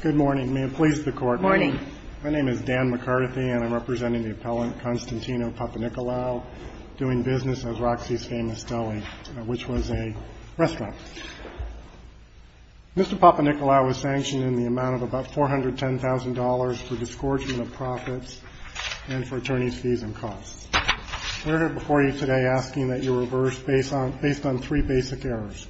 PAPANICCOLAO Mr. Papaniccolao was sanctioned in the amount of about $410,000 for disgorgement of profits and for attorney's fees and costs. We're here before you today asking that you reverse based on three basic errors.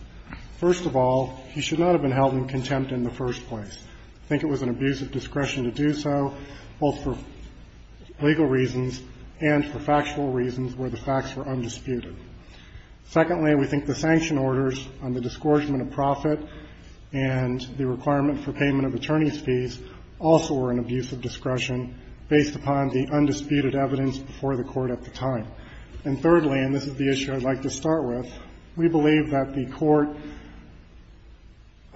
First of all, he should not have been held in contempt in the first place. I think it was an abuse of discretion to do so, both for legal reasons and for factual reasons where the facts were undisputed. Secondly, we think the sanction orders on the disgorgement of profit and the requirement for payment of attorney's fees also were an abuse of discretion based upon the undisputed evidence before the Court at the time. And thirdly, and this is the issue I'd like to start with, we believe that the Court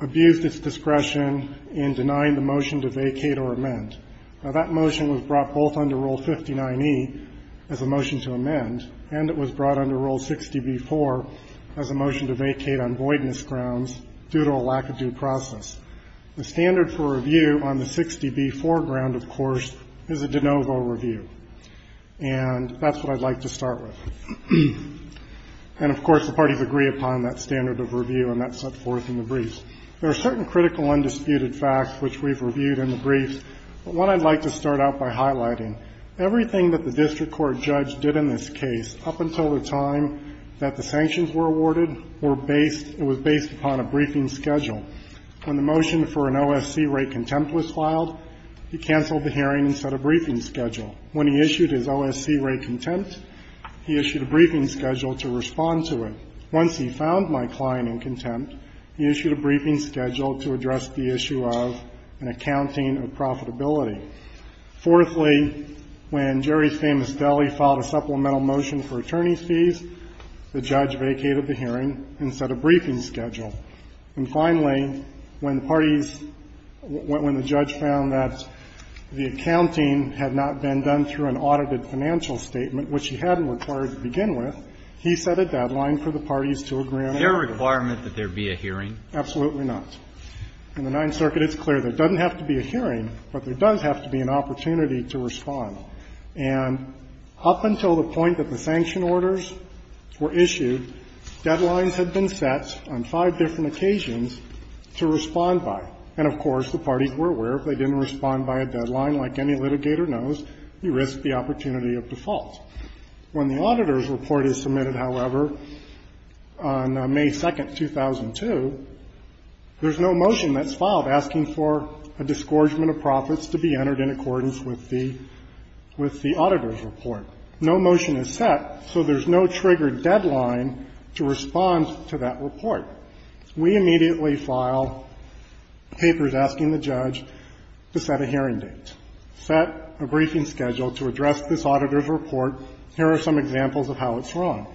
abused its discretion in denying the motion to vacate or amend. Now, that motion was brought both under Rule 59e as a motion to amend, and it was brought under Rule 60b-4 as a motion to vacate on voidness grounds due to a lack of due process. The standard for review on the 60b foreground, of course, is a de novo review. And that's what I'd like to start with. And, of course, the parties agree upon that standard of review, and that's set forth in the briefs. There are certain critical undisputed facts which we've reviewed in the briefs, but what I'd like to start out by highlighting, everything that the district court judge did in this case up until the time that the sanctions were awarded were based upon a briefing schedule. When the motion for an OSC rate contempt was filed, he canceled the hearing and set a briefing schedule. When he issued his OSC rate contempt, he issued a briefing schedule to respond to it. Once he found my client in contempt, he issued a briefing schedule to address the issue of an accounting of profitability. Fourthly, when Jerry's Famous Deli filed a supplemental motion for attorney's fees, the judge vacated the hearing and set a briefing schedule. And finally, when the parties – when the judge found that the accounting had not been done through an audited financial statement, which he hadn't required to begin with, he set a deadline for the parties to agree on a briefing schedule. Alito Is there a requirement that there be a hearing? Absolutely not. In the Ninth Circuit, it's clear there doesn't have to be a hearing, but there does have to be an opportunity to respond. And up until the point that the sanction orders were issued, deadlines had been set on five different occasions to respond by. And, of course, the parties were aware if they didn't respond by a deadline, like any litigator knows, you risk the opportunity of default. When the auditor's report is submitted, however, on May 2, 2002, there's no motion that's filed asking for a disgorgement of profits to be entered in accordance with the – with the auditor's report. No motion is set, so there's no triggered deadline to respond to that report. We immediately file papers asking the judge to set a hearing date, set a briefing schedule to address this auditor's report. Here are some examples of how it's wrong.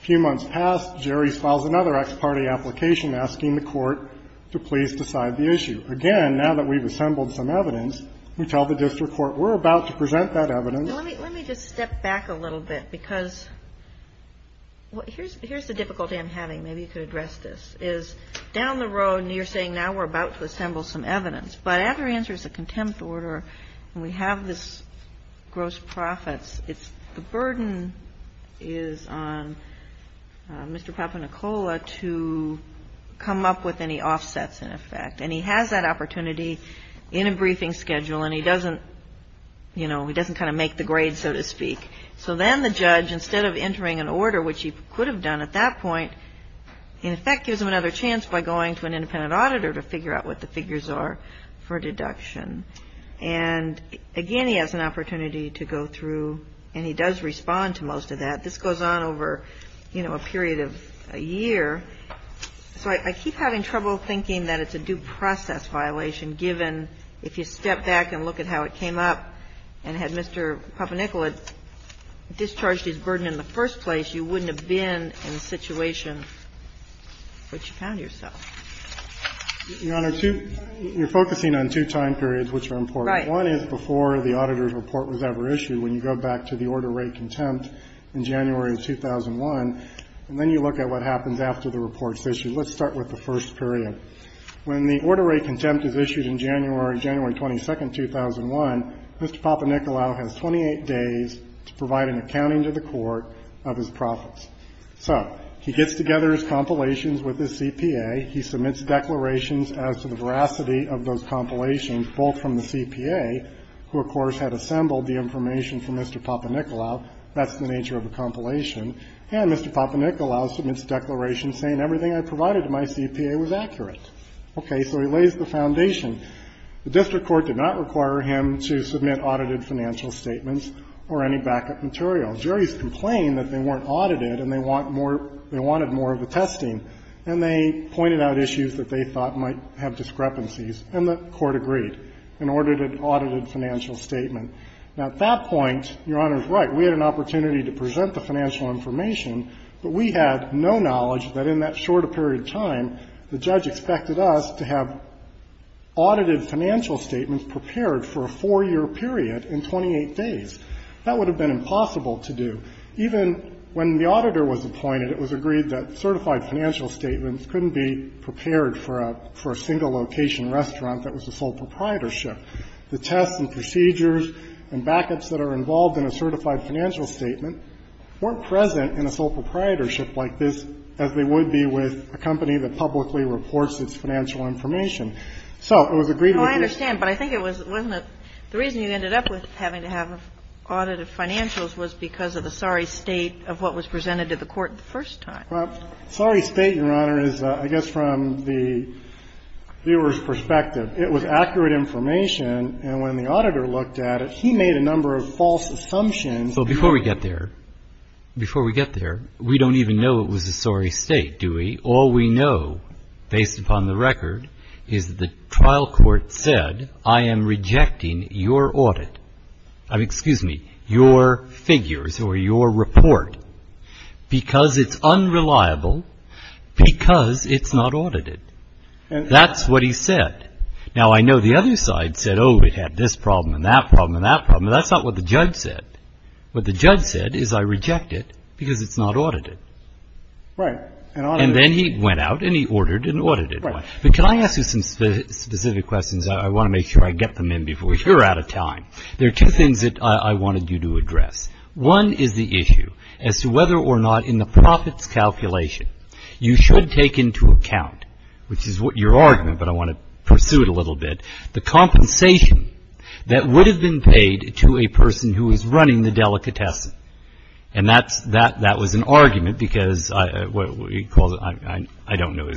A few months pass. Jerry files another ex parte application asking the court to please decide the issue. Again, now that we've assembled some evidence, we tell the district court we're about to present that evidence. Let me just step back a little bit, because here's the difficulty I'm having. Maybe you could address this. Is down the road, you're saying now we're about to assemble some evidence. But after he answers a contempt order, and we have this gross profits, it's the burden is on Mr. Papanicola to come up with any offsets, in effect. And he has that opportunity in a briefing schedule, and he doesn't, you know, he doesn't kind of make the grade, so to speak. So then the judge, instead of entering an order, which he could have done at that point, in effect gives him another chance by going to an independent auditor to figure out what the figures are for deduction. And again, he has an opportunity to go through, and he does respond to most of that. This goes on over, you know, a period of a year. So I keep having trouble thinking that it's a due process violation, given if you step back and look at how it came up and had Mr. Papanicola discharged his burden in the first place, you wouldn't have been in a situation which you found yourself. You're focusing on two time periods which are important. One is before the auditor's report was ever issued, when you go back to the order rate contempt in January of 2001, and then you look at what happens after the report is issued. Let's start with the first period. When the order rate contempt is issued in January, January 22, 2001, Mr. Papanicola has 28 days to provide an accounting to the court of his profits. So he gets together his compilations with his CPA. He submits declarations as to the veracity of those compilations, both from the CPA, who, of course, had assembled the information from Mr. Papanicola. That's the nature of a compilation. And Mr. Papanicola submits declarations saying everything I provided to my CPA was accurate. Okay. So he lays the foundation. The district court did not require him to submit audited financial statements or any backup material. Juries complained that they weren't audited and they want more of the testing. And they pointed out issues that they thought might have discrepancies. And the court agreed and ordered an audited financial statement. Now, at that point, Your Honor is right. We had an opportunity to present the financial information, but we had no knowledge that in that short a period of time the judge expected us to have audited financial statements prepared for a 4-year period in 28 days. That would have been impossible to do. Even when the auditor was appointed, it was agreed that certified financial statements couldn't be prepared for a single location restaurant that was a sole proprietorship. The tests and procedures and backups that are involved in a certified financial statement weren't present in a sole proprietorship like this as they would be with a company that publicly reports its financial information. So it was agreed with you. I understand. But I think it was the reason you ended up with having to have an audit of financials was because of the sorry state of what was presented to the court the first time. Sorry state, Your Honor, is I guess from the viewer's perspective. It was accurate information. And when the auditor looked at it, he made a number of false assumptions. So before we get there, before we get there, we don't even know it was a sorry state, do we? All we know, based upon the record, is the trial court said, I am rejecting your audit. Excuse me, your figures or your report, because it's unreliable, because it's not audited. That's what he said. Now, I know the other side said, oh, it had this problem and that problem and that problem. That's not what the judge said. What the judge said is I reject it because it's not audited. Right. And then he went out and he ordered an audited one. But can I ask you some specific questions? I want to make sure I get them in before you're out of time. There are two things that I wanted you to address. One is the issue as to whether or not in the profits calculation you should take into account, which is your argument, but I want to pursue it a little bit, the compensation that would have been paid to a person who is running the delicatessen. And that was an argument because I don't know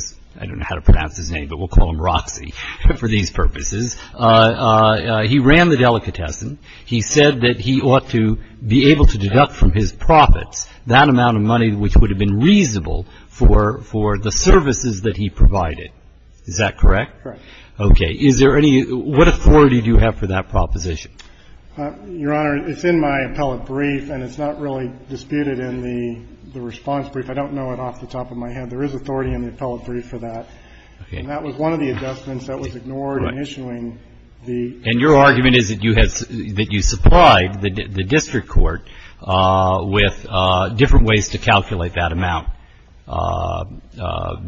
how to pronounce his name, but we'll call him Roxy for these purposes. He ran the delicatessen. He said that he ought to be able to deduct from his profits that amount of money which would have been reasonable for the services that he provided. Is that correct? Correct. Okay. Is there any – what authority do you have for that proposition? Your Honor, it's in my appellate brief and it's not really disputed in the response brief. I don't know it off the top of my head. There is authority in the appellate brief for that. Okay. And that was one of the adjustments that was ignored in issuing the… Right. And your argument is that you supplied the district court with different ways to calculate that amount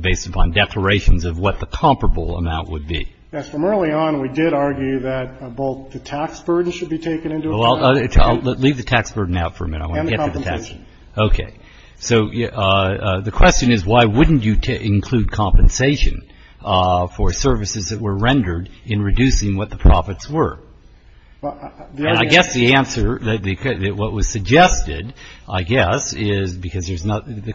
based upon declarations of what the comparable amount would be. Yes. From early on, we did argue that both the tax burden should be taken into account. I'll leave the tax burden out for a minute. And the compensation. Okay. So the question is why wouldn't you include compensation for services that were rendered in reducing what the profits were? And I guess the answer – what was suggested, I guess, is because there's not – the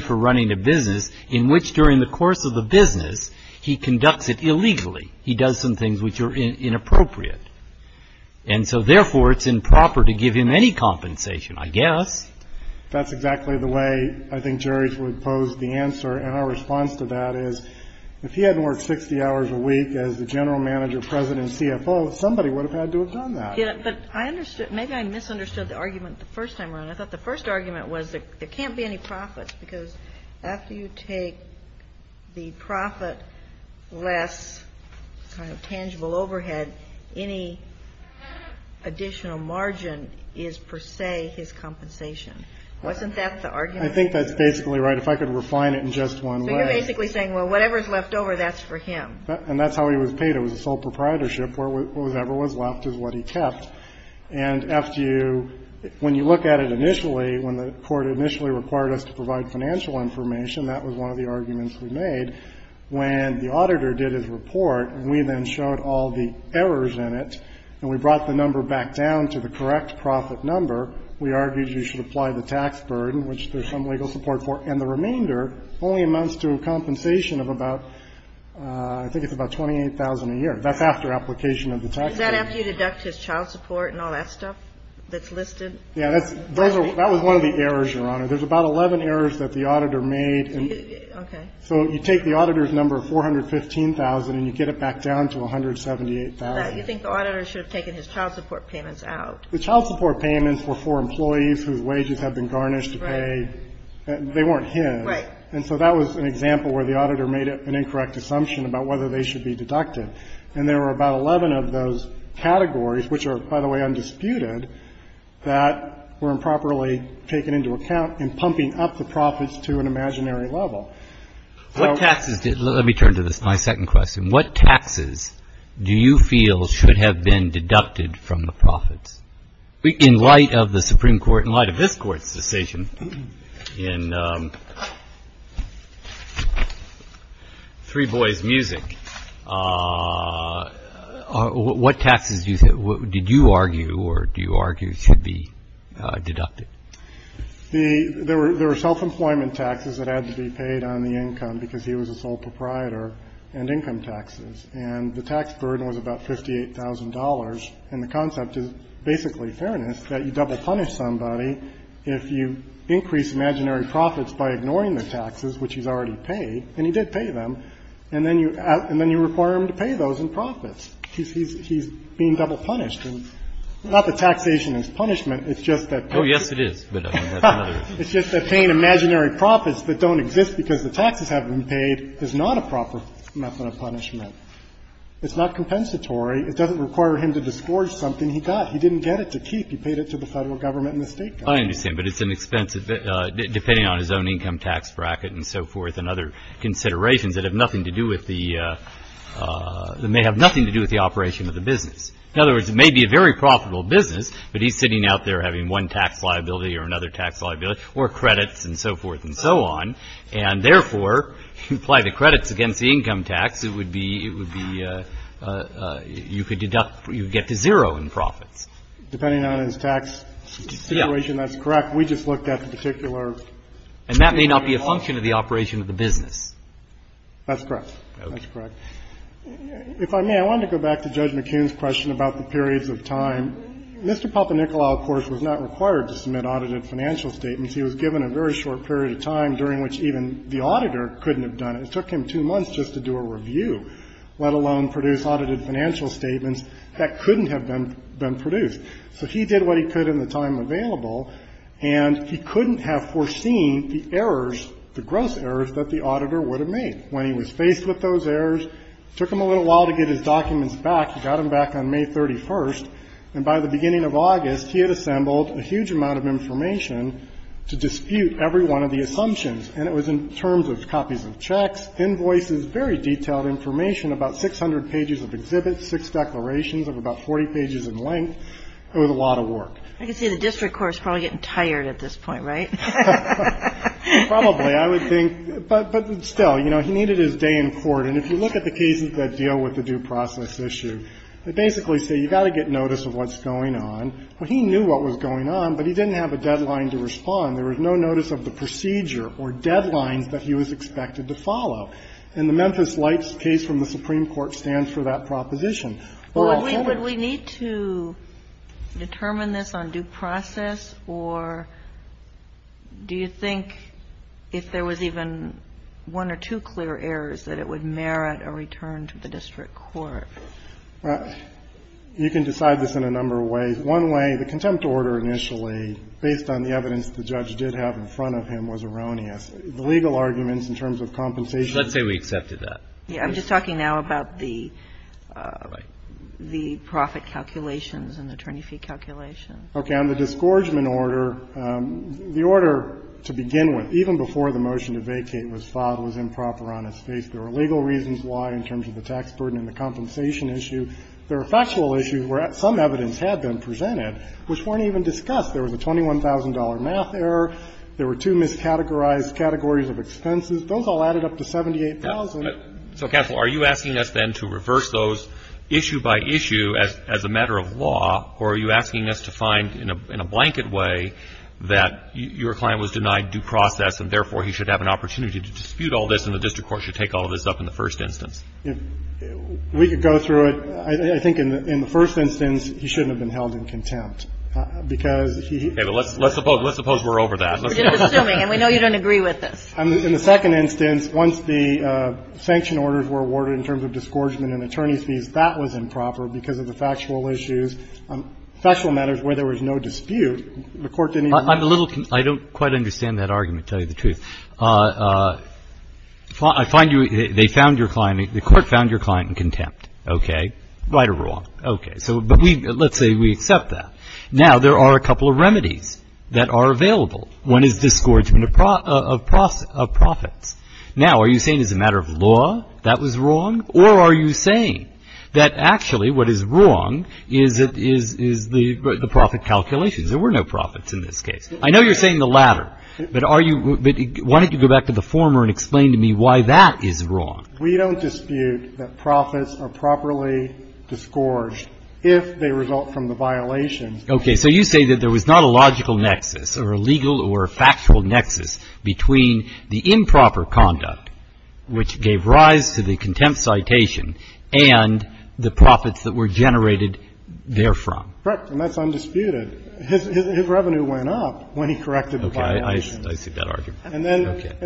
for running a business in which, during the course of the business, he conducts it illegally. He does some things which are inappropriate. And so, therefore, it's improper to give him any compensation, I guess. That's exactly the way I think Jerry would pose the answer. And our response to that is if he hadn't worked 60 hours a week as the general manager, president, and CFO, somebody would have had to have done that. Yeah, but I understood – maybe I misunderstood the argument the first time around. I thought the first argument was there can't be any profits because after you take the profit less kind of tangible overhead, any additional margin is, per se, his compensation. Wasn't that the argument? I think that's basically right. If I could refine it in just one way. So you're basically saying, well, whatever's left over, that's for him. And that's how he was paid. It was a sole proprietorship. Whatever was left is what he kept. And after you – when you look at it initially, when the Court initially required us to provide financial information, that was one of the arguments we made. When the auditor did his report and we then showed all the errors in it, and we brought the number back down to the correct profit number, we argued you should apply the tax burden, which there's some legal support for, and the remainder only amounts to a compensation of about – I think it's about $28,000 a year. That's after application of the tax burden. Is that after you deduct his child support and all that stuff that's listed? Yeah. That was one of the errors, Your Honor. There's about 11 errors that the auditor made. Okay. So you take the auditor's number of $415,000 and you get it back down to $178,000. You think the auditor should have taken his child support payments out. The child support payments were for employees whose wages had been garnished to pay. Right. They weren't his. Right. And so that was an example where the auditor made an incorrect assumption about whether they should be deducted. And there were about 11 of those categories, which are, by the way, undisputed, that were improperly taken into account in pumping up the profits to an imaginary level. What taxes – let me turn to my second question. What taxes do you feel should have been deducted from the profits? In light of the Supreme Court, in light of this Court's decision in Three Boys Music, what taxes did you argue or do you argue should be deducted? There were self-employment taxes that had to be paid on the income because he was a sole proprietor, and income taxes. And the tax burden was about $58,000. And the concept is, basically, fairness, that you double punish somebody if you increase imaginary profits by ignoring the taxes, which he's already paid, and he did pay them, and then you require him to pay those in profits. He's being double punished. And not that taxation is punishment. It's just that paying imaginary profits that don't exist because the taxes have been paid is not a proper method of punishment. It's not compensatory. It doesn't require him to disgorge something he got. He didn't get it to keep. He paid it to the Federal Government and the State Government. I understand, but it's an expensive – depending on his own income tax bracket and so forth and other considerations that have nothing to do with the – that may have nothing to do with the operation of the business. In other words, it may be a very profitable business, but he's sitting out there having one tax liability or another tax liability or credits and so forth and so on. And therefore, if you apply the credits against the income tax, it would be – it would be – you could deduct – you would get to zero in profits. Depending on his tax situation, that's correct. We just looked at the particular – And that may not be a function of the operation of the business. That's correct. That's correct. If I may, I wanted to go back to Judge McKeon's question about the periods of time. Mr. Papanicola, of course, was not required to submit audited financial statements. He was given a very short period of time during which even the auditor couldn't have done it. It took him two months just to do a review, let alone produce audited financial statements that couldn't have been produced. So he did what he could in the time available, and he couldn't have foreseen the errors, the gross errors that the auditor would have made. When he was faced with those errors, it took him a little while to get his documents back. He got them back on May 31st. And by the beginning of August, he had assembled a huge amount of information to dispute every one of the assumptions. And it was in terms of copies of checks, invoices, very detailed information, about 600 pages of exhibits, six declarations of about 40 pages in length. It was a lot of work. I can see the district court is probably getting tired at this point, right? Probably, I would think. But still, you know, he needed his day in court. And if you look at the cases that deal with the due process issue, they basically say you've got to get notice of what's going on. Well, he knew what was going on, but he didn't have a deadline to respond. There was no notice of the procedure or deadlines that he was expected to follow. And the Memphis Lights case from the Supreme Court stands for that proposition. Alito. Kagan. Would we need to determine this on due process, or do you think if there was even one or two clear errors that it would merit a return to the district court? You can decide this in a number of ways. One way, the contempt order initially, based on the evidence the judge did have in front of him, was erroneous. The legal arguments in terms of compensation. Let's say we accepted that. Yeah. I'm just talking now about the profit calculations and the attorney fee calculations. Okay. On the disgorgement order, the order to begin with, even before the motion to vacate was filed, was improper on its face. There are legal reasons why in terms of the tax burden and the compensation issue. There are factual issues where some evidence had been presented which weren't even discussed. There was a $21,000 math error. There were two miscategorized categories of expenses. Those all added up to $78,000. So, counsel, are you asking us then to reverse those issue by issue as a matter of law, or are you asking us to find in a blanket way that your client was denied due process and, therefore, he should have an opportunity to dispute all this and the district court should take all of this up in the first instance? We could go through it. I think in the first instance, he shouldn't have been held in contempt because he... Okay. But let's suppose we're over that. We're just assuming, and we know you don't agree with this. In the second instance, once the sanction orders were awarded in terms of disgorgement and attorney fees, that was improper because of the factual issues, factual matters where there was no dispute. The Court didn't even... I'm a little con... I don't quite understand that argument, to tell you the truth. I find you... They found your client... The Court found your client in contempt. Okay. Right or wrong? Okay. So, but we... Let's say we accept that. Now, there are a couple of remedies that are available. One is disgorgement of profits. Now, are you saying as a matter of law that was wrong, or are you saying that actually what is wrong is the profit calculations? There were no profits in this case. I know you're saying the latter. But are you... Why don't you go back to the former and explain to me why that is wrong? We don't dispute that profits are properly disgorged if they result from the violations. Okay. So, you say that there was not a logical nexus or a legal or a factual nexus between the improper conduct, which gave rise to the contempt citation, and the profits that were generated therefrom. Correct. And that's undisputed. His revenue went up when he corrected... Okay. I see that argument. And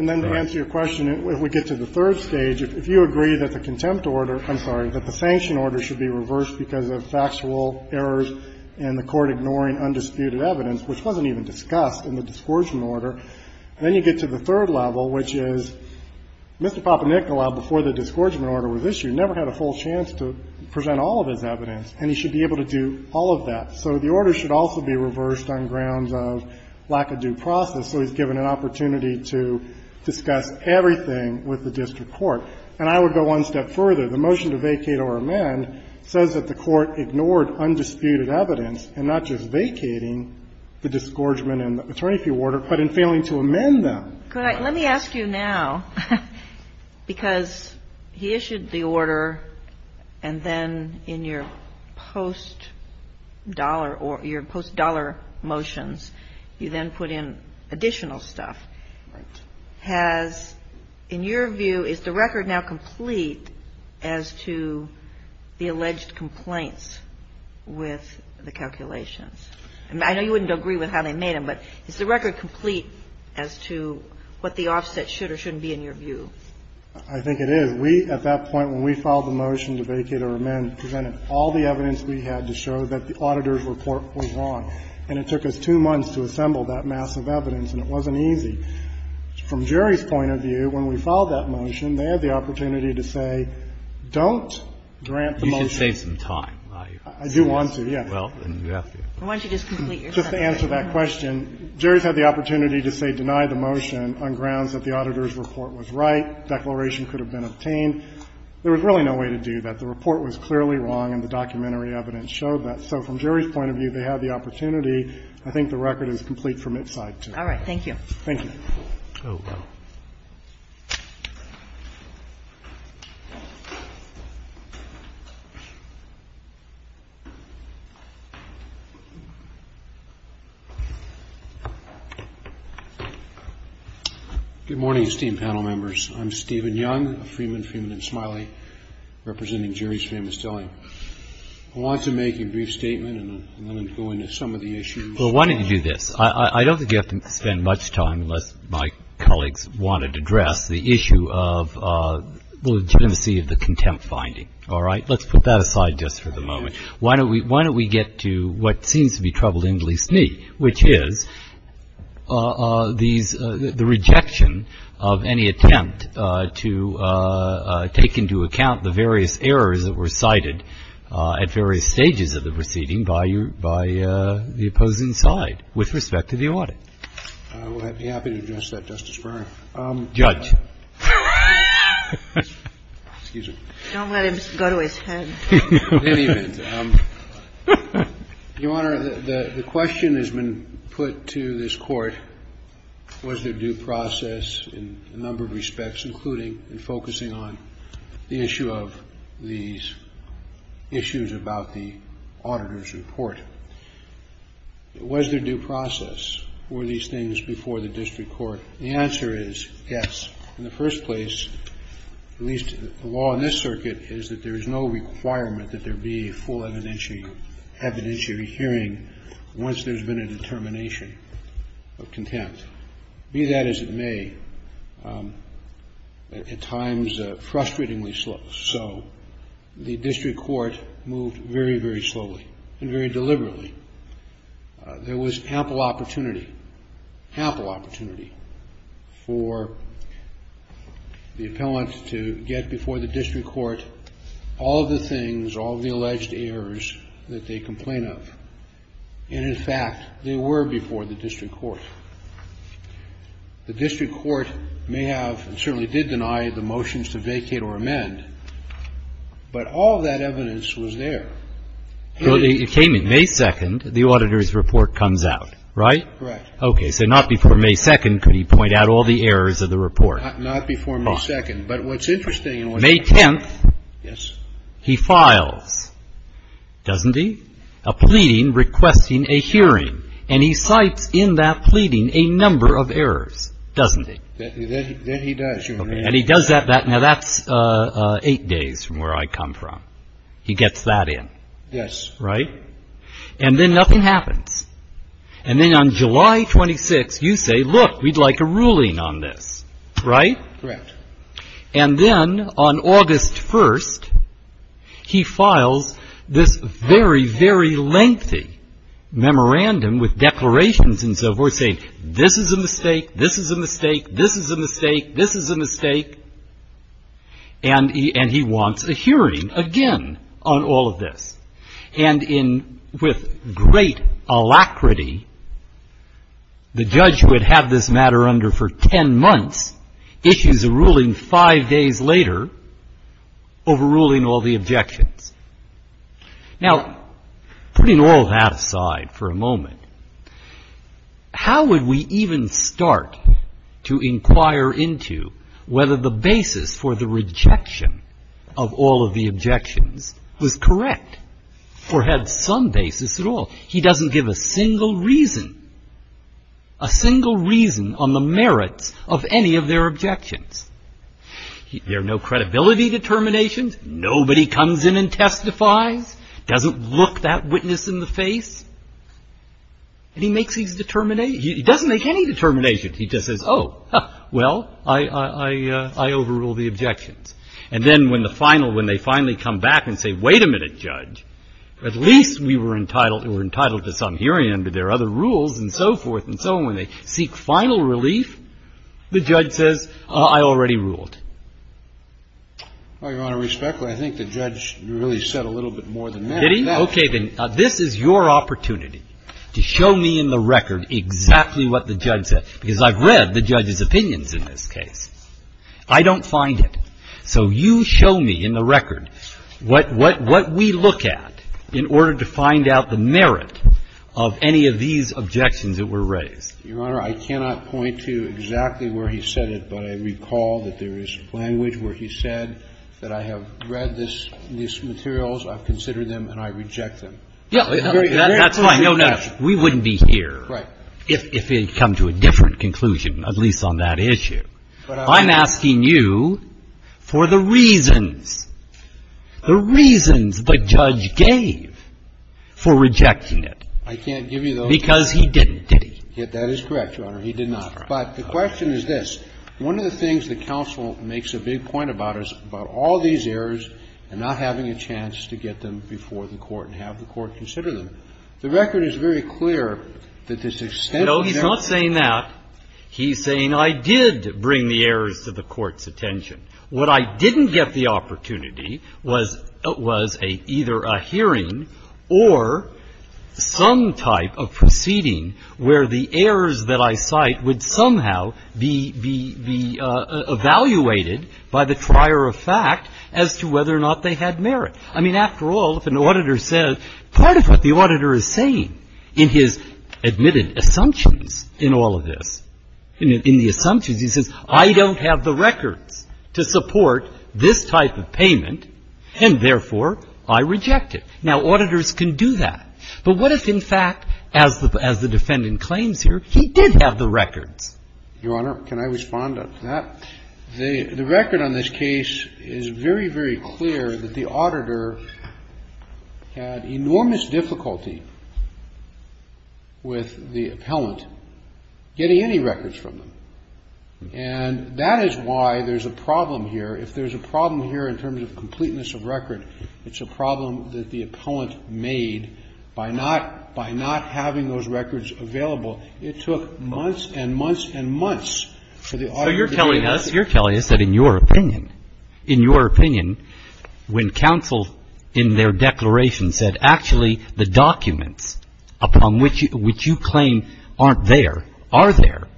then to answer your question, if we get to the third stage, if you agree that the contempt order, I'm sorry, that the sanction order should be reversed because of factual errors and the Court ignoring undisputed evidence, which wasn't even discussed in the disgorgement order, and then you get to the third level, which is Mr. Papanicola, before the disgorgement order was issued, never had a full chance to present all of his evidence, and he should be able to do all of that. So, the order should also be reversed on grounds of lack of due process, so he's given an opportunity to discuss everything with the district court. And I would go one step further. The motion to vacate or amend says that the Court ignored undisputed evidence in not just vacating the disgorgement and the attorney fee order, but in failing to amend them. Kagan. Let me ask you now, because he issued the order, and then in your post-dollar motions, you then put in additional stuff. Right. Has, in your view, is the record now complete as to the alleged complaints with the calculations? I know you wouldn't agree with how they made them, but is the record complete as to what the offset should or shouldn't be in your view? I think it is. We, at that point, when we filed the motion to vacate or amend, presented all the evidence we had to show that the auditor's report was wrong. And it took us two months to assemble that mass of evidence, and it wasn't easy. From Jerry's point of view, when we filed that motion, they had the opportunity to say, don't grant the motion. You should save some time. I do want to, yes. Why don't you just complete your sentence? To answer that question, Jerry's had the opportunity to say, deny the motion on grounds that the auditor's report was right, declaration could have been obtained. There was really no way to do that. The report was clearly wrong, and the documentary evidence showed that. So from Jerry's point of view, they had the opportunity. I think the record is complete from its side, too. All right. Thank you. Thank you. Oh, well. Good morning, esteemed panel members. I'm Stephen Young of Freeman, Freeman & Smiley, representing Jerry's Famous Deli. I want to make a brief statement and then go into some of the issues. Well, why don't you do this? I don't think you have to spend much time, unless my colleagues wanted to address, the issue of the legitimacy of the contempt finding. All right? Let's put that aside just for the moment. Why don't we get to what seems to be troubling at least me, which is the rejection of any attempt to take into account the various errors that were cited at various stages of the proceeding by the opposing side with respect to the audit. I would be happy to address that, Justice Breyer. Judge. Don't let him go to his head. In any event, Your Honor, the question has been put to this Court, was there due process in a number of respects, including in focusing on the issue of these issues about the auditor's report? Was there due process? Were these things before the district court? The answer is yes. In the first place, at least the law in this circuit is that there is no requirement that there be a full evidentiary hearing once there's been a determination of contempt. Be that as it may, at times frustratingly so, the district court moved very, very slowly and very deliberately. There was ample opportunity, ample opportunity for the appellant to get before the district court all of the things, all of the alleged errors that they complain of. And, in fact, they were before the district court. The district court may have and certainly did deny the motions to vacate or amend, but all of that evidence was there. Well, it came in May 2nd, the auditor's report comes out, right? Correct. Okay. So not before May 2nd could he point out all the errors of the report. Not before May 2nd. But what's interesting in what he did. May 10th. Yes. He files, doesn't he? A pleading requesting a hearing. And he cites in that pleading a number of errors, doesn't he? Then he does. And he does that. Now, that's eight days from where I come from. He gets that in. Yes. Right? And then nothing happens. And then on July 26th, you say, look, we'd like a ruling on this. Right? Correct. And then on August 1st, he files this very, very lengthy memorandum with declarations and so forth, saying this is a mistake, this is a mistake, this is a mistake, this is a mistake. And he wants a hearing again on all of this. And with great alacrity, the judge would have this matter under for ten months, issues a ruling five days later, overruling all the objections. Now, putting all that aside for a moment, how would we even start to inquire into whether the basis for the rejection of all of the objections was correct or had some basis at all? He doesn't give a single reason, a single reason on the merits of any of their objections. There are no credibility determinations. Nobody comes in and testifies, doesn't look that witness in the face. He doesn't make any determination. He just says, oh, well, I overruled the objections. And then when the final, when they finally come back and say, wait a minute, Judge, at least we were entitled to some hearing under their other rules and so forth and so on. When they seek final relief, the judge says, I already ruled. Your Honor, respectfully, I think the judge really said a little bit more than that. Did he? Okay. And this is your opportunity to show me in the record exactly what the judge said, because I've read the judge's opinions in this case. I don't find it. So you show me in the record what we look at in order to find out the merit of any of these objections that were raised. Your Honor, I cannot point to exactly where he said it, but I recall that there is language where he said that I have read these materials, I've considered them, and I reject them. That's fine. We wouldn't be here if he had come to a different conclusion, at least on that issue. I'm asking you for the reasons, the reasons the judge gave for rejecting it. I can't give you those. Because he didn't, did he? That is correct, Your Honor. He did not. But the question is this. One of the things the counsel makes a big point about is about all these errors and not having a chance to get them before the Court and have the Court consider them. The record is very clear that this extent to which they were brought. No, he's not saying that. He's saying I did bring the errors to the Court's attention. What I didn't get the opportunity was either a hearing or some type of proceeding where the errors that I cite would somehow be evaluated by the trier of fact as to whether or not they had merit. I mean, after all, if an auditor says part of what the auditor is saying in his admitted assumptions in all of this, in the assumptions, he says I don't have the records to support this type of payment, and therefore I reject it. Now, auditors can do that. But what if, in fact, as the defendant claims here, he did have the records? Your Honor, can I respond to that? The record on this case is very, very clear that the auditor had enormous difficulty with the appellant getting any records from them. And that is why there's a problem here. If there's a problem here in terms of completeness of record, it's a problem that the appellant made by not having those records available. It took months and months and months for the auditor to get any records. So you're telling us that in your opinion, in your opinion, when counsel in their declaration said actually the documents upon which you claim aren't there are there,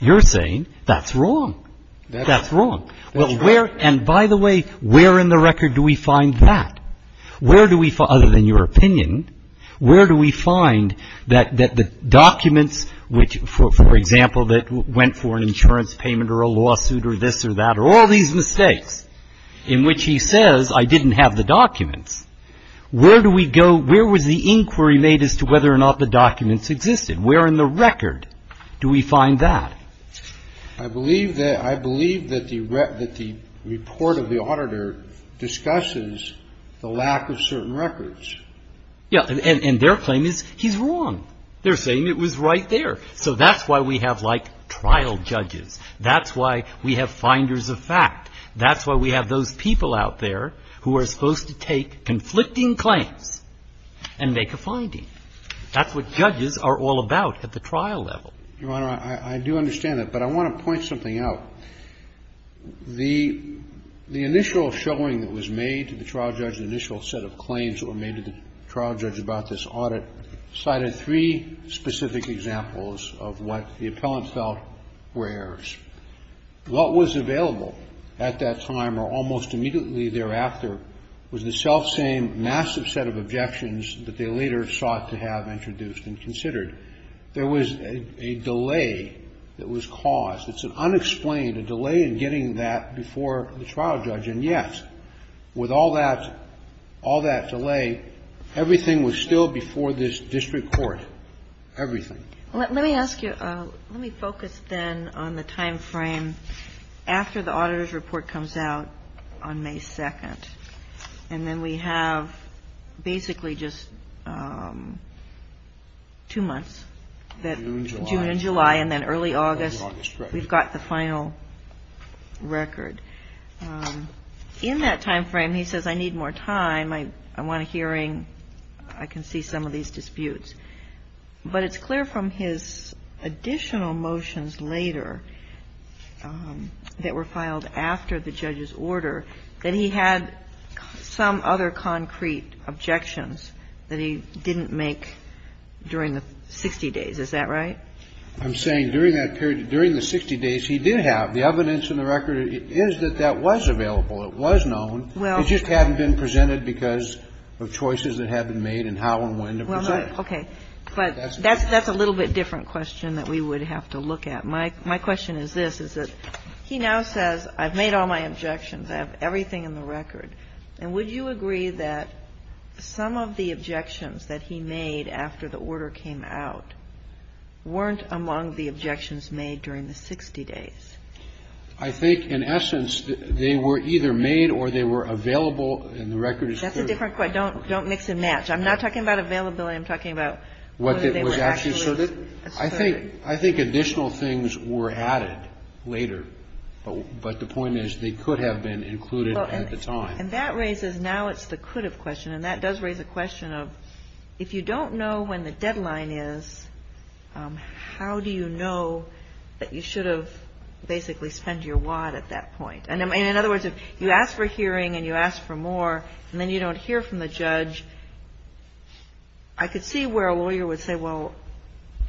you're saying that's wrong. That's wrong. That's right. And by the way, where in the record do we find that? Where do we find, other than your opinion, where do we find that the documents which, for example, that went for an insurance payment or a lawsuit or this or that or all these mistakes in which he says I didn't have the documents, where do we go, where was the inquiry made as to whether or not the documents existed? Where in the record do we find that? I believe that the report of the auditor discusses the lack of certain records. Yeah. And their claim is he's wrong. They're saying it was right there. So that's why we have like trial judges. That's why we have finders of fact. That's why we have those people out there who are supposed to take conflicting claims and make a finding. That's what judges are all about at the trial level. Your Honor, I do understand that, but I want to point something out. The initial showing that was made to the trial judge, the initial set of claims that were made to the trial judge about this audit cited three specific examples of what the appellant felt were errors. What was available at that time or almost immediately thereafter was the self-same massive set of objections that they later sought to have introduced and considered. There was a delay that was caused. It's an unexplained delay in getting that before the trial judge. And yet, with all that delay, everything was still before this district court. Everything. Let me ask you, let me focus then on the time frame after the auditor's report comes out on May 2nd. And then we have basically just two months. June and July. And then early August. We've got the final record. In that time frame, he says, I need more time. I want a hearing. I can see some of these disputes. But it's clear from his additional motions later that were filed after the judge's report that there were some other concrete objections that he didn't make during the 60 days. Is that right? I'm saying during that period, during the 60 days, he did have the evidence in the record is that that was available. It was known. It just hadn't been presented because of choices that had been made and how and when to present it. Okay. But that's a little bit different question that we would have to look at. My question is this, is that he now says, I've made all my objections. I have everything in the record. And would you agree that some of the objections that he made after the order came out weren't among the objections made during the 60 days? I think in essence, they were either made or they were available, and the record is clear. That's a different question. Don't mix and match. I'm not talking about availability. I'm talking about whether they were actually asserted. I think additional things were added later. But the point is they could have been included at the time. And that raises, now it's the could have question. And that does raise a question of if you don't know when the deadline is, how do you know that you should have basically spent your WAD at that point? And in other words, if you ask for hearing and you ask for more, and then you don't hear from the judge, I could see where a lawyer would say, well,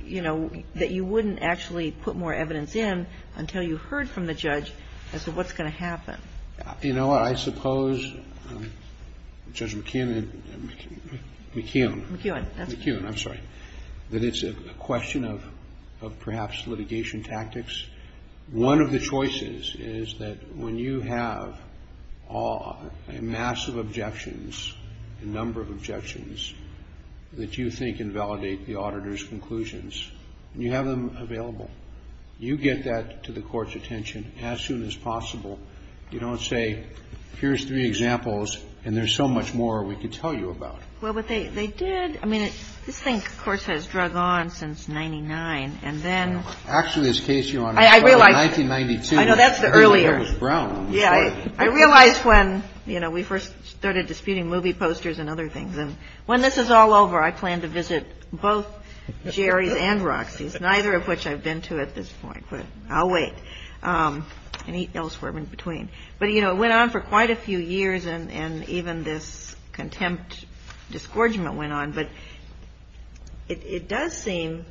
you know, that you wouldn't actually put more evidence in until you heard from the judge as to what's going to happen. You know, I suppose, Judge McKeown, McKeown. McKeown. McKeown, I'm sorry. That it's a question of perhaps litigation tactics. One of the choices is that when you have a massive objections, a number of objections, that you think invalidate the auditor's conclusions, and you have them available, you get that to the court's attention as soon as possible. You don't say, here's three examples, and there's so much more we could tell you about. Well, but they did. I mean, this thing, of course, has drug on since 99. And then. Actually, this case, Your Honor. I realize. 1992. I know, that's the earlier. It was Brown. Yeah. I realize when, you know, we first started disputing movie posters and other things. And when this is all over, I plan to visit both Jerry's and Roxy's, neither of which I've been to at this point. But I'll wait. And eat elsewhere in between. But, you know, it went on for quite a few years, and even this contempt disgorgement went on. But it does seem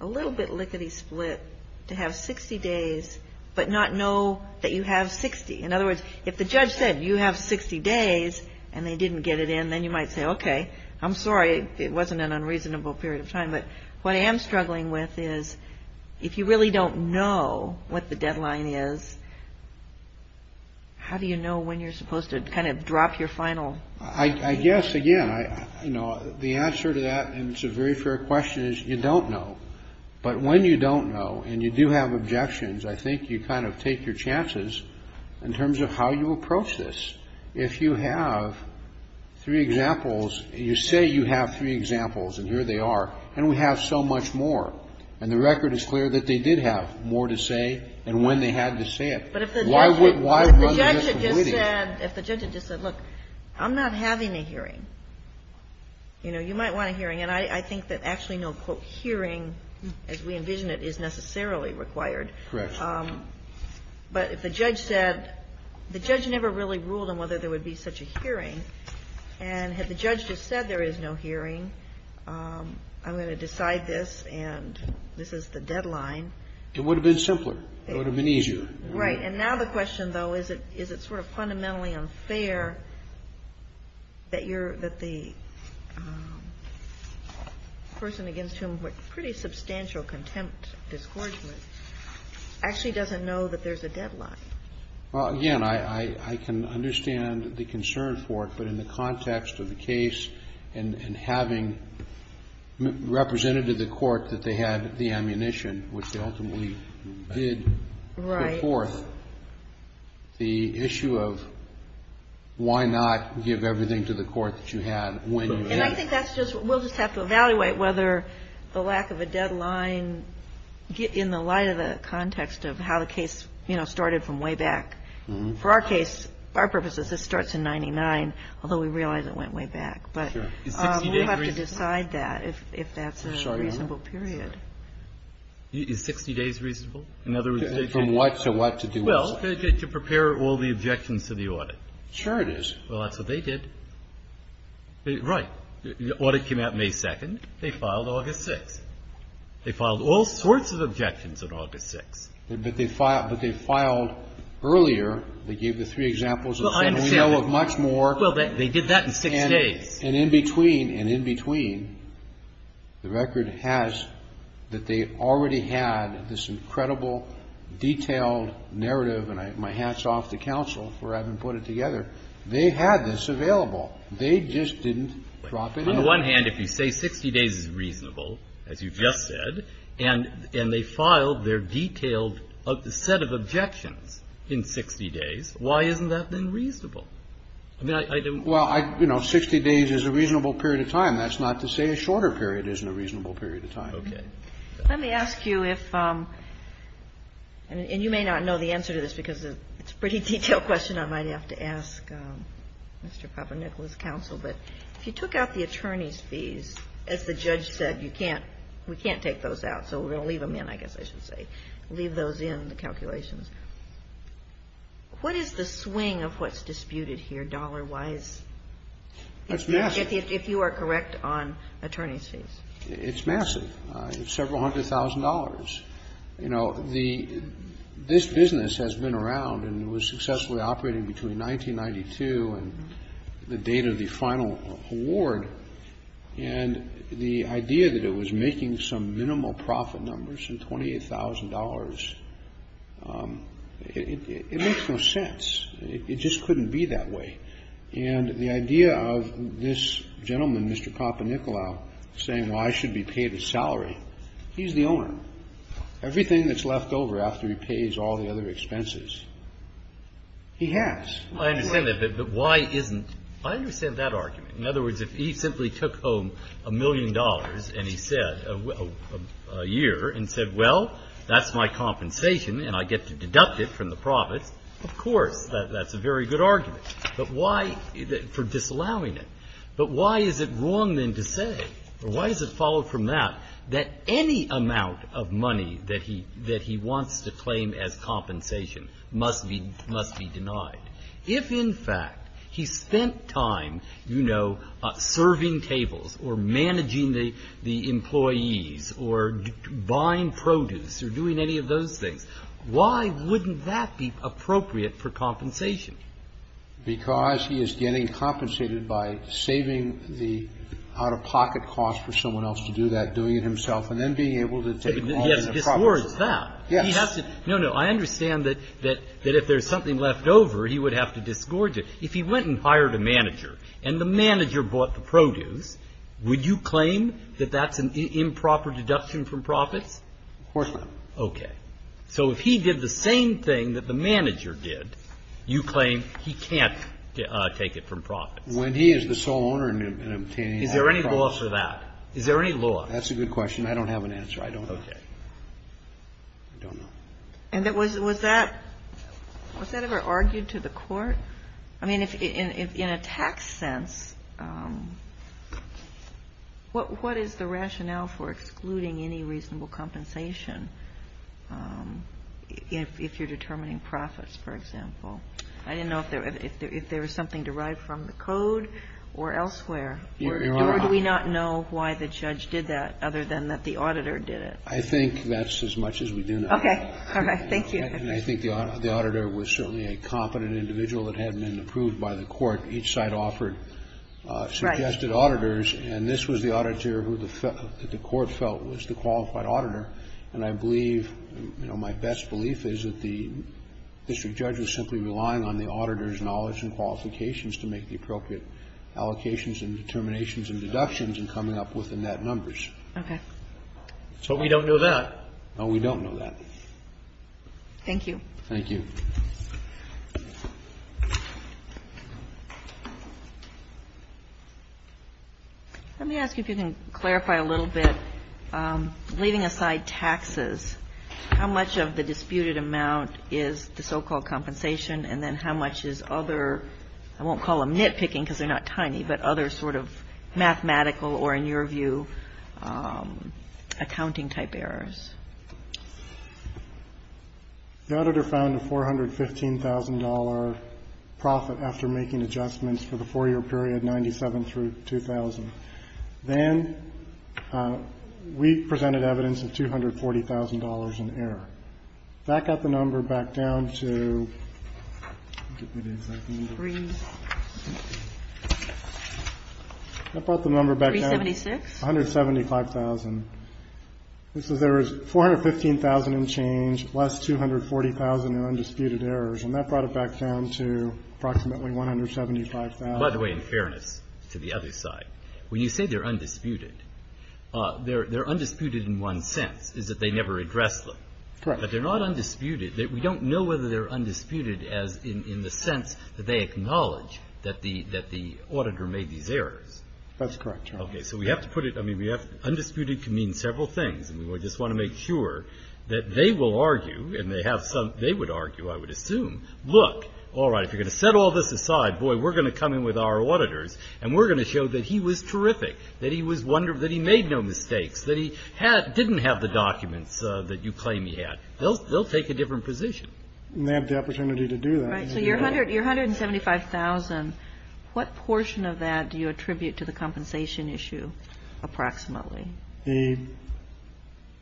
a little bit lickety split to have 60 days but not know that you have 60. In other words, if the judge said you have 60 days and they didn't get it in, then you might say, okay, I'm sorry. It wasn't an unreasonable period of time. But what I am struggling with is if you really don't know what the deadline is, how do you know when you're supposed to kind of drop your final. I guess, again, you know, the answer to that, and it's a very fair question, is you don't know. But when you don't know and you do have objections, I think you kind of take your chances in terms of how you approach this. If you have three examples, you say you have three examples, and here they are. And we have so much more. And the record is clear that they did have more to say and when they had to say it. But if the judge had just said, look, I'm not having a hearing, you know, you might want a hearing. And I think that actually no, quote, hearing, as we envision it, is necessarily required. But if the judge said, the judge never really ruled on whether there would be such a hearing. And had the judge just said there is no hearing, I'm going to decide this and this is the deadline. It would have been simpler. It would have been easier. Right. And now the question, though, is it sort of fundamentally unfair that you're that the person against whom with pretty substantial contempt, disgorgement, actually doesn't know that there's a deadline? Well, again, I can understand the concern for it. But in the context of the case and having represented to the court that they had the ammunition, which they ultimately did put forth, the issue of why not give everything to the court that you had when you had it. And I think that's just, we'll just have to evaluate whether the lack of a deadline, in the light of the context of how the case, you know, started from way back. For our case, our purposes, this starts in 99, although we realize it went way back. But we'll have to decide that if that's a reasonable period. Is 60 days reasonable? From what to what to do what? Well, to prepare all the objections to the audit. Sure it is. Well, that's what they did. Right. The audit came out May 2nd. They filed August 6th. They filed all sorts of objections on August 6th. But they filed earlier. They gave the three examples. We know of much more. Well, they did that in six days. And in between, and in between, the record has that they already had this incredible, detailed narrative, and my hat's off to counsel for having put it together. They had this available. They just didn't drop it in. On the one hand, if you say 60 days is reasonable, as you just said, and they filed their detailed set of objections in 60 days, why isn't that then reasonable? Well, you know, 60 days is a reasonable period of time. That's not to say a shorter period isn't a reasonable period of time. Okay. Let me ask you if, and you may not know the answer to this because it's a pretty detailed question I might have to ask Mr. Papanicola's counsel, but if you took out the attorney's fees, as the judge said, you can't, we can't take those out, so we're going to leave them in, I guess I should say, leave those in, the calculations. What is the swing of what's disputed here dollar-wise? That's massive. If you are correct on attorney's fees. It's massive. It's several hundred thousand dollars. You know, the, this business has been around and was successfully operating between 1992 and the date of the final award, and the idea that it was making some it makes no sense. It just couldn't be that way. And the idea of this gentleman, Mr. Papanicola, saying, well, I should be paid a salary, he's the owner. Everything that's left over after he pays all the other expenses, he has. I understand that, but why isn't, I understand that argument. In other words, if he simply took home a million dollars, and he said, a year, and I get to deduct it from the profits, of course, that's a very good argument. But why, for disallowing it, but why is it wrong then to say, or why is it followed from that, that any amount of money that he, that he wants to claim as compensation must be, must be denied. If, in fact, he spent time, you know, serving tables, or managing the, the employees, or buying produce, or doing any of those things, why wouldn't that be appropriate for compensation? Because he is getting compensated by saving the out-of-pocket cost for someone else to do that, doing it himself, and then being able to take all the profits. He has to disgorge that. Yes. He has to. No, no. I understand that, that if there's something left over, he would have to disgorge it. If he went and hired a manager, and the manager bought the produce, would you claim that that's an improper deduction from profits? Of course not. Okay. So if he did the same thing that the manager did, you claim he can't take it from profits. When he is the sole owner and obtaining all the profits. Is there any law for that? Is there any law? That's a good question. I don't have an answer. I don't know. Okay. I don't know. And that was, was that, was that ever argued to the Court? I mean, in a tax sense, what is the rationale for excluding any reasonable compensation if you're determining profits, for example? I didn't know if there was something derived from the code or elsewhere, or do we not know why the judge did that other than that the auditor did it? I think that's as much as we do know. Okay. All right. Thank you. And I think the auditor was certainly a competent individual that had been approved by the Court. Each side offered suggested auditors, and this was the auditor who the Court felt was the qualified auditor. And I believe, you know, my best belief is that the district judge was simply relying on the auditor's knowledge and qualifications to make the appropriate allocations and determinations and deductions and coming up with the net numbers. Okay. So we don't know that? No, we don't know that. Okay. Thank you. Thank you. Let me ask if you can clarify a little bit, leaving aside taxes, how much of the disputed amount is the so-called compensation, and then how much is other, I won't call them nitpicking because they're not tiny, but other sort of mathematical or, in your view, accounting-type errors? The auditor found a $415,000 profit after making adjustments for the 4-year period, 97 through 2000. Then we presented evidence of $240,000 in error. That got the number back down to, give me the exact number. Three. That brought the number back down to $175,000. $415,000 in change, less $240,000 in undisputed errors, and that brought it back down to approximately $175,000. By the way, in fairness to the other side, when you say they're undisputed, they're undisputed in one sense, is that they never address them. Correct. But they're not undisputed. We don't know whether they're undisputed in the sense that they acknowledge that the auditor made these errors. That's correct. Okay. So we have to put it, I mean, undisputed can mean several things, and we just want to make sure that they will argue, and they would argue, I would assume, look, all right, if you're going to set all this aside, boy, we're going to come in with our auditors, and we're going to show that he was terrific, that he made no mistakes, that he didn't have the documents that you claim he had. They'll take a different position. And they have the opportunity to do that. Right. So your $175,000, what portion of that do you attribute to the compensation issue approximately?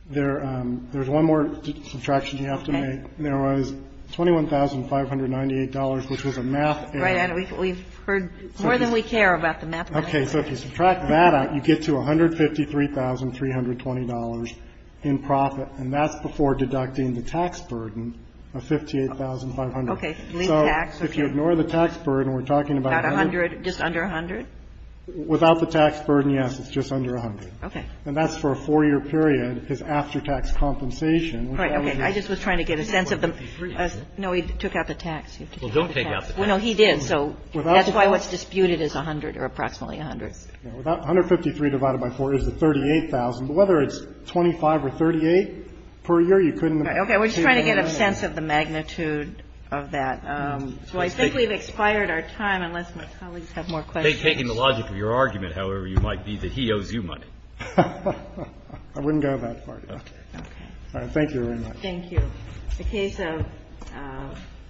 There's one more subtraction you have to make. There was $21,598, which was a math error. Right. We've heard more than we care about the math. Okay. So if you subtract that out, you get to $153,320 in profit, and that's before deducting the tax burden of $58,500. Okay. So if you ignore the tax burden, we're talking about 100. Just under 100? Without the tax burden, yes, it's just under 100. Okay. And that's for a 4-year period, his after-tax compensation. Right. Okay. I just was trying to get a sense of the ---- No, he took out the tax. Well, don't take out the tax. No, he did. So that's why what's disputed is 100 or approximately 100. $153,000 divided by 4 is the $38,000. Whether it's 25 or 38 per year, you couldn't ---- Okay. We're just trying to get a sense of the magnitude of that. So I think we've expired our time, unless my colleagues have more questions. Taking the logic of your argument, however, you might be that he owes you money. I wouldn't go that far, Your Honor. Okay. All right. Thank you very much. The case of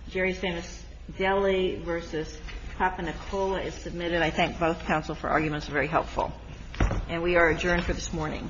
Jerry's Famous Deli v. Papa Nicola is submitted. I thank both counsel for arguments. They're very helpful. And we are adjourned for this morning. Thank you.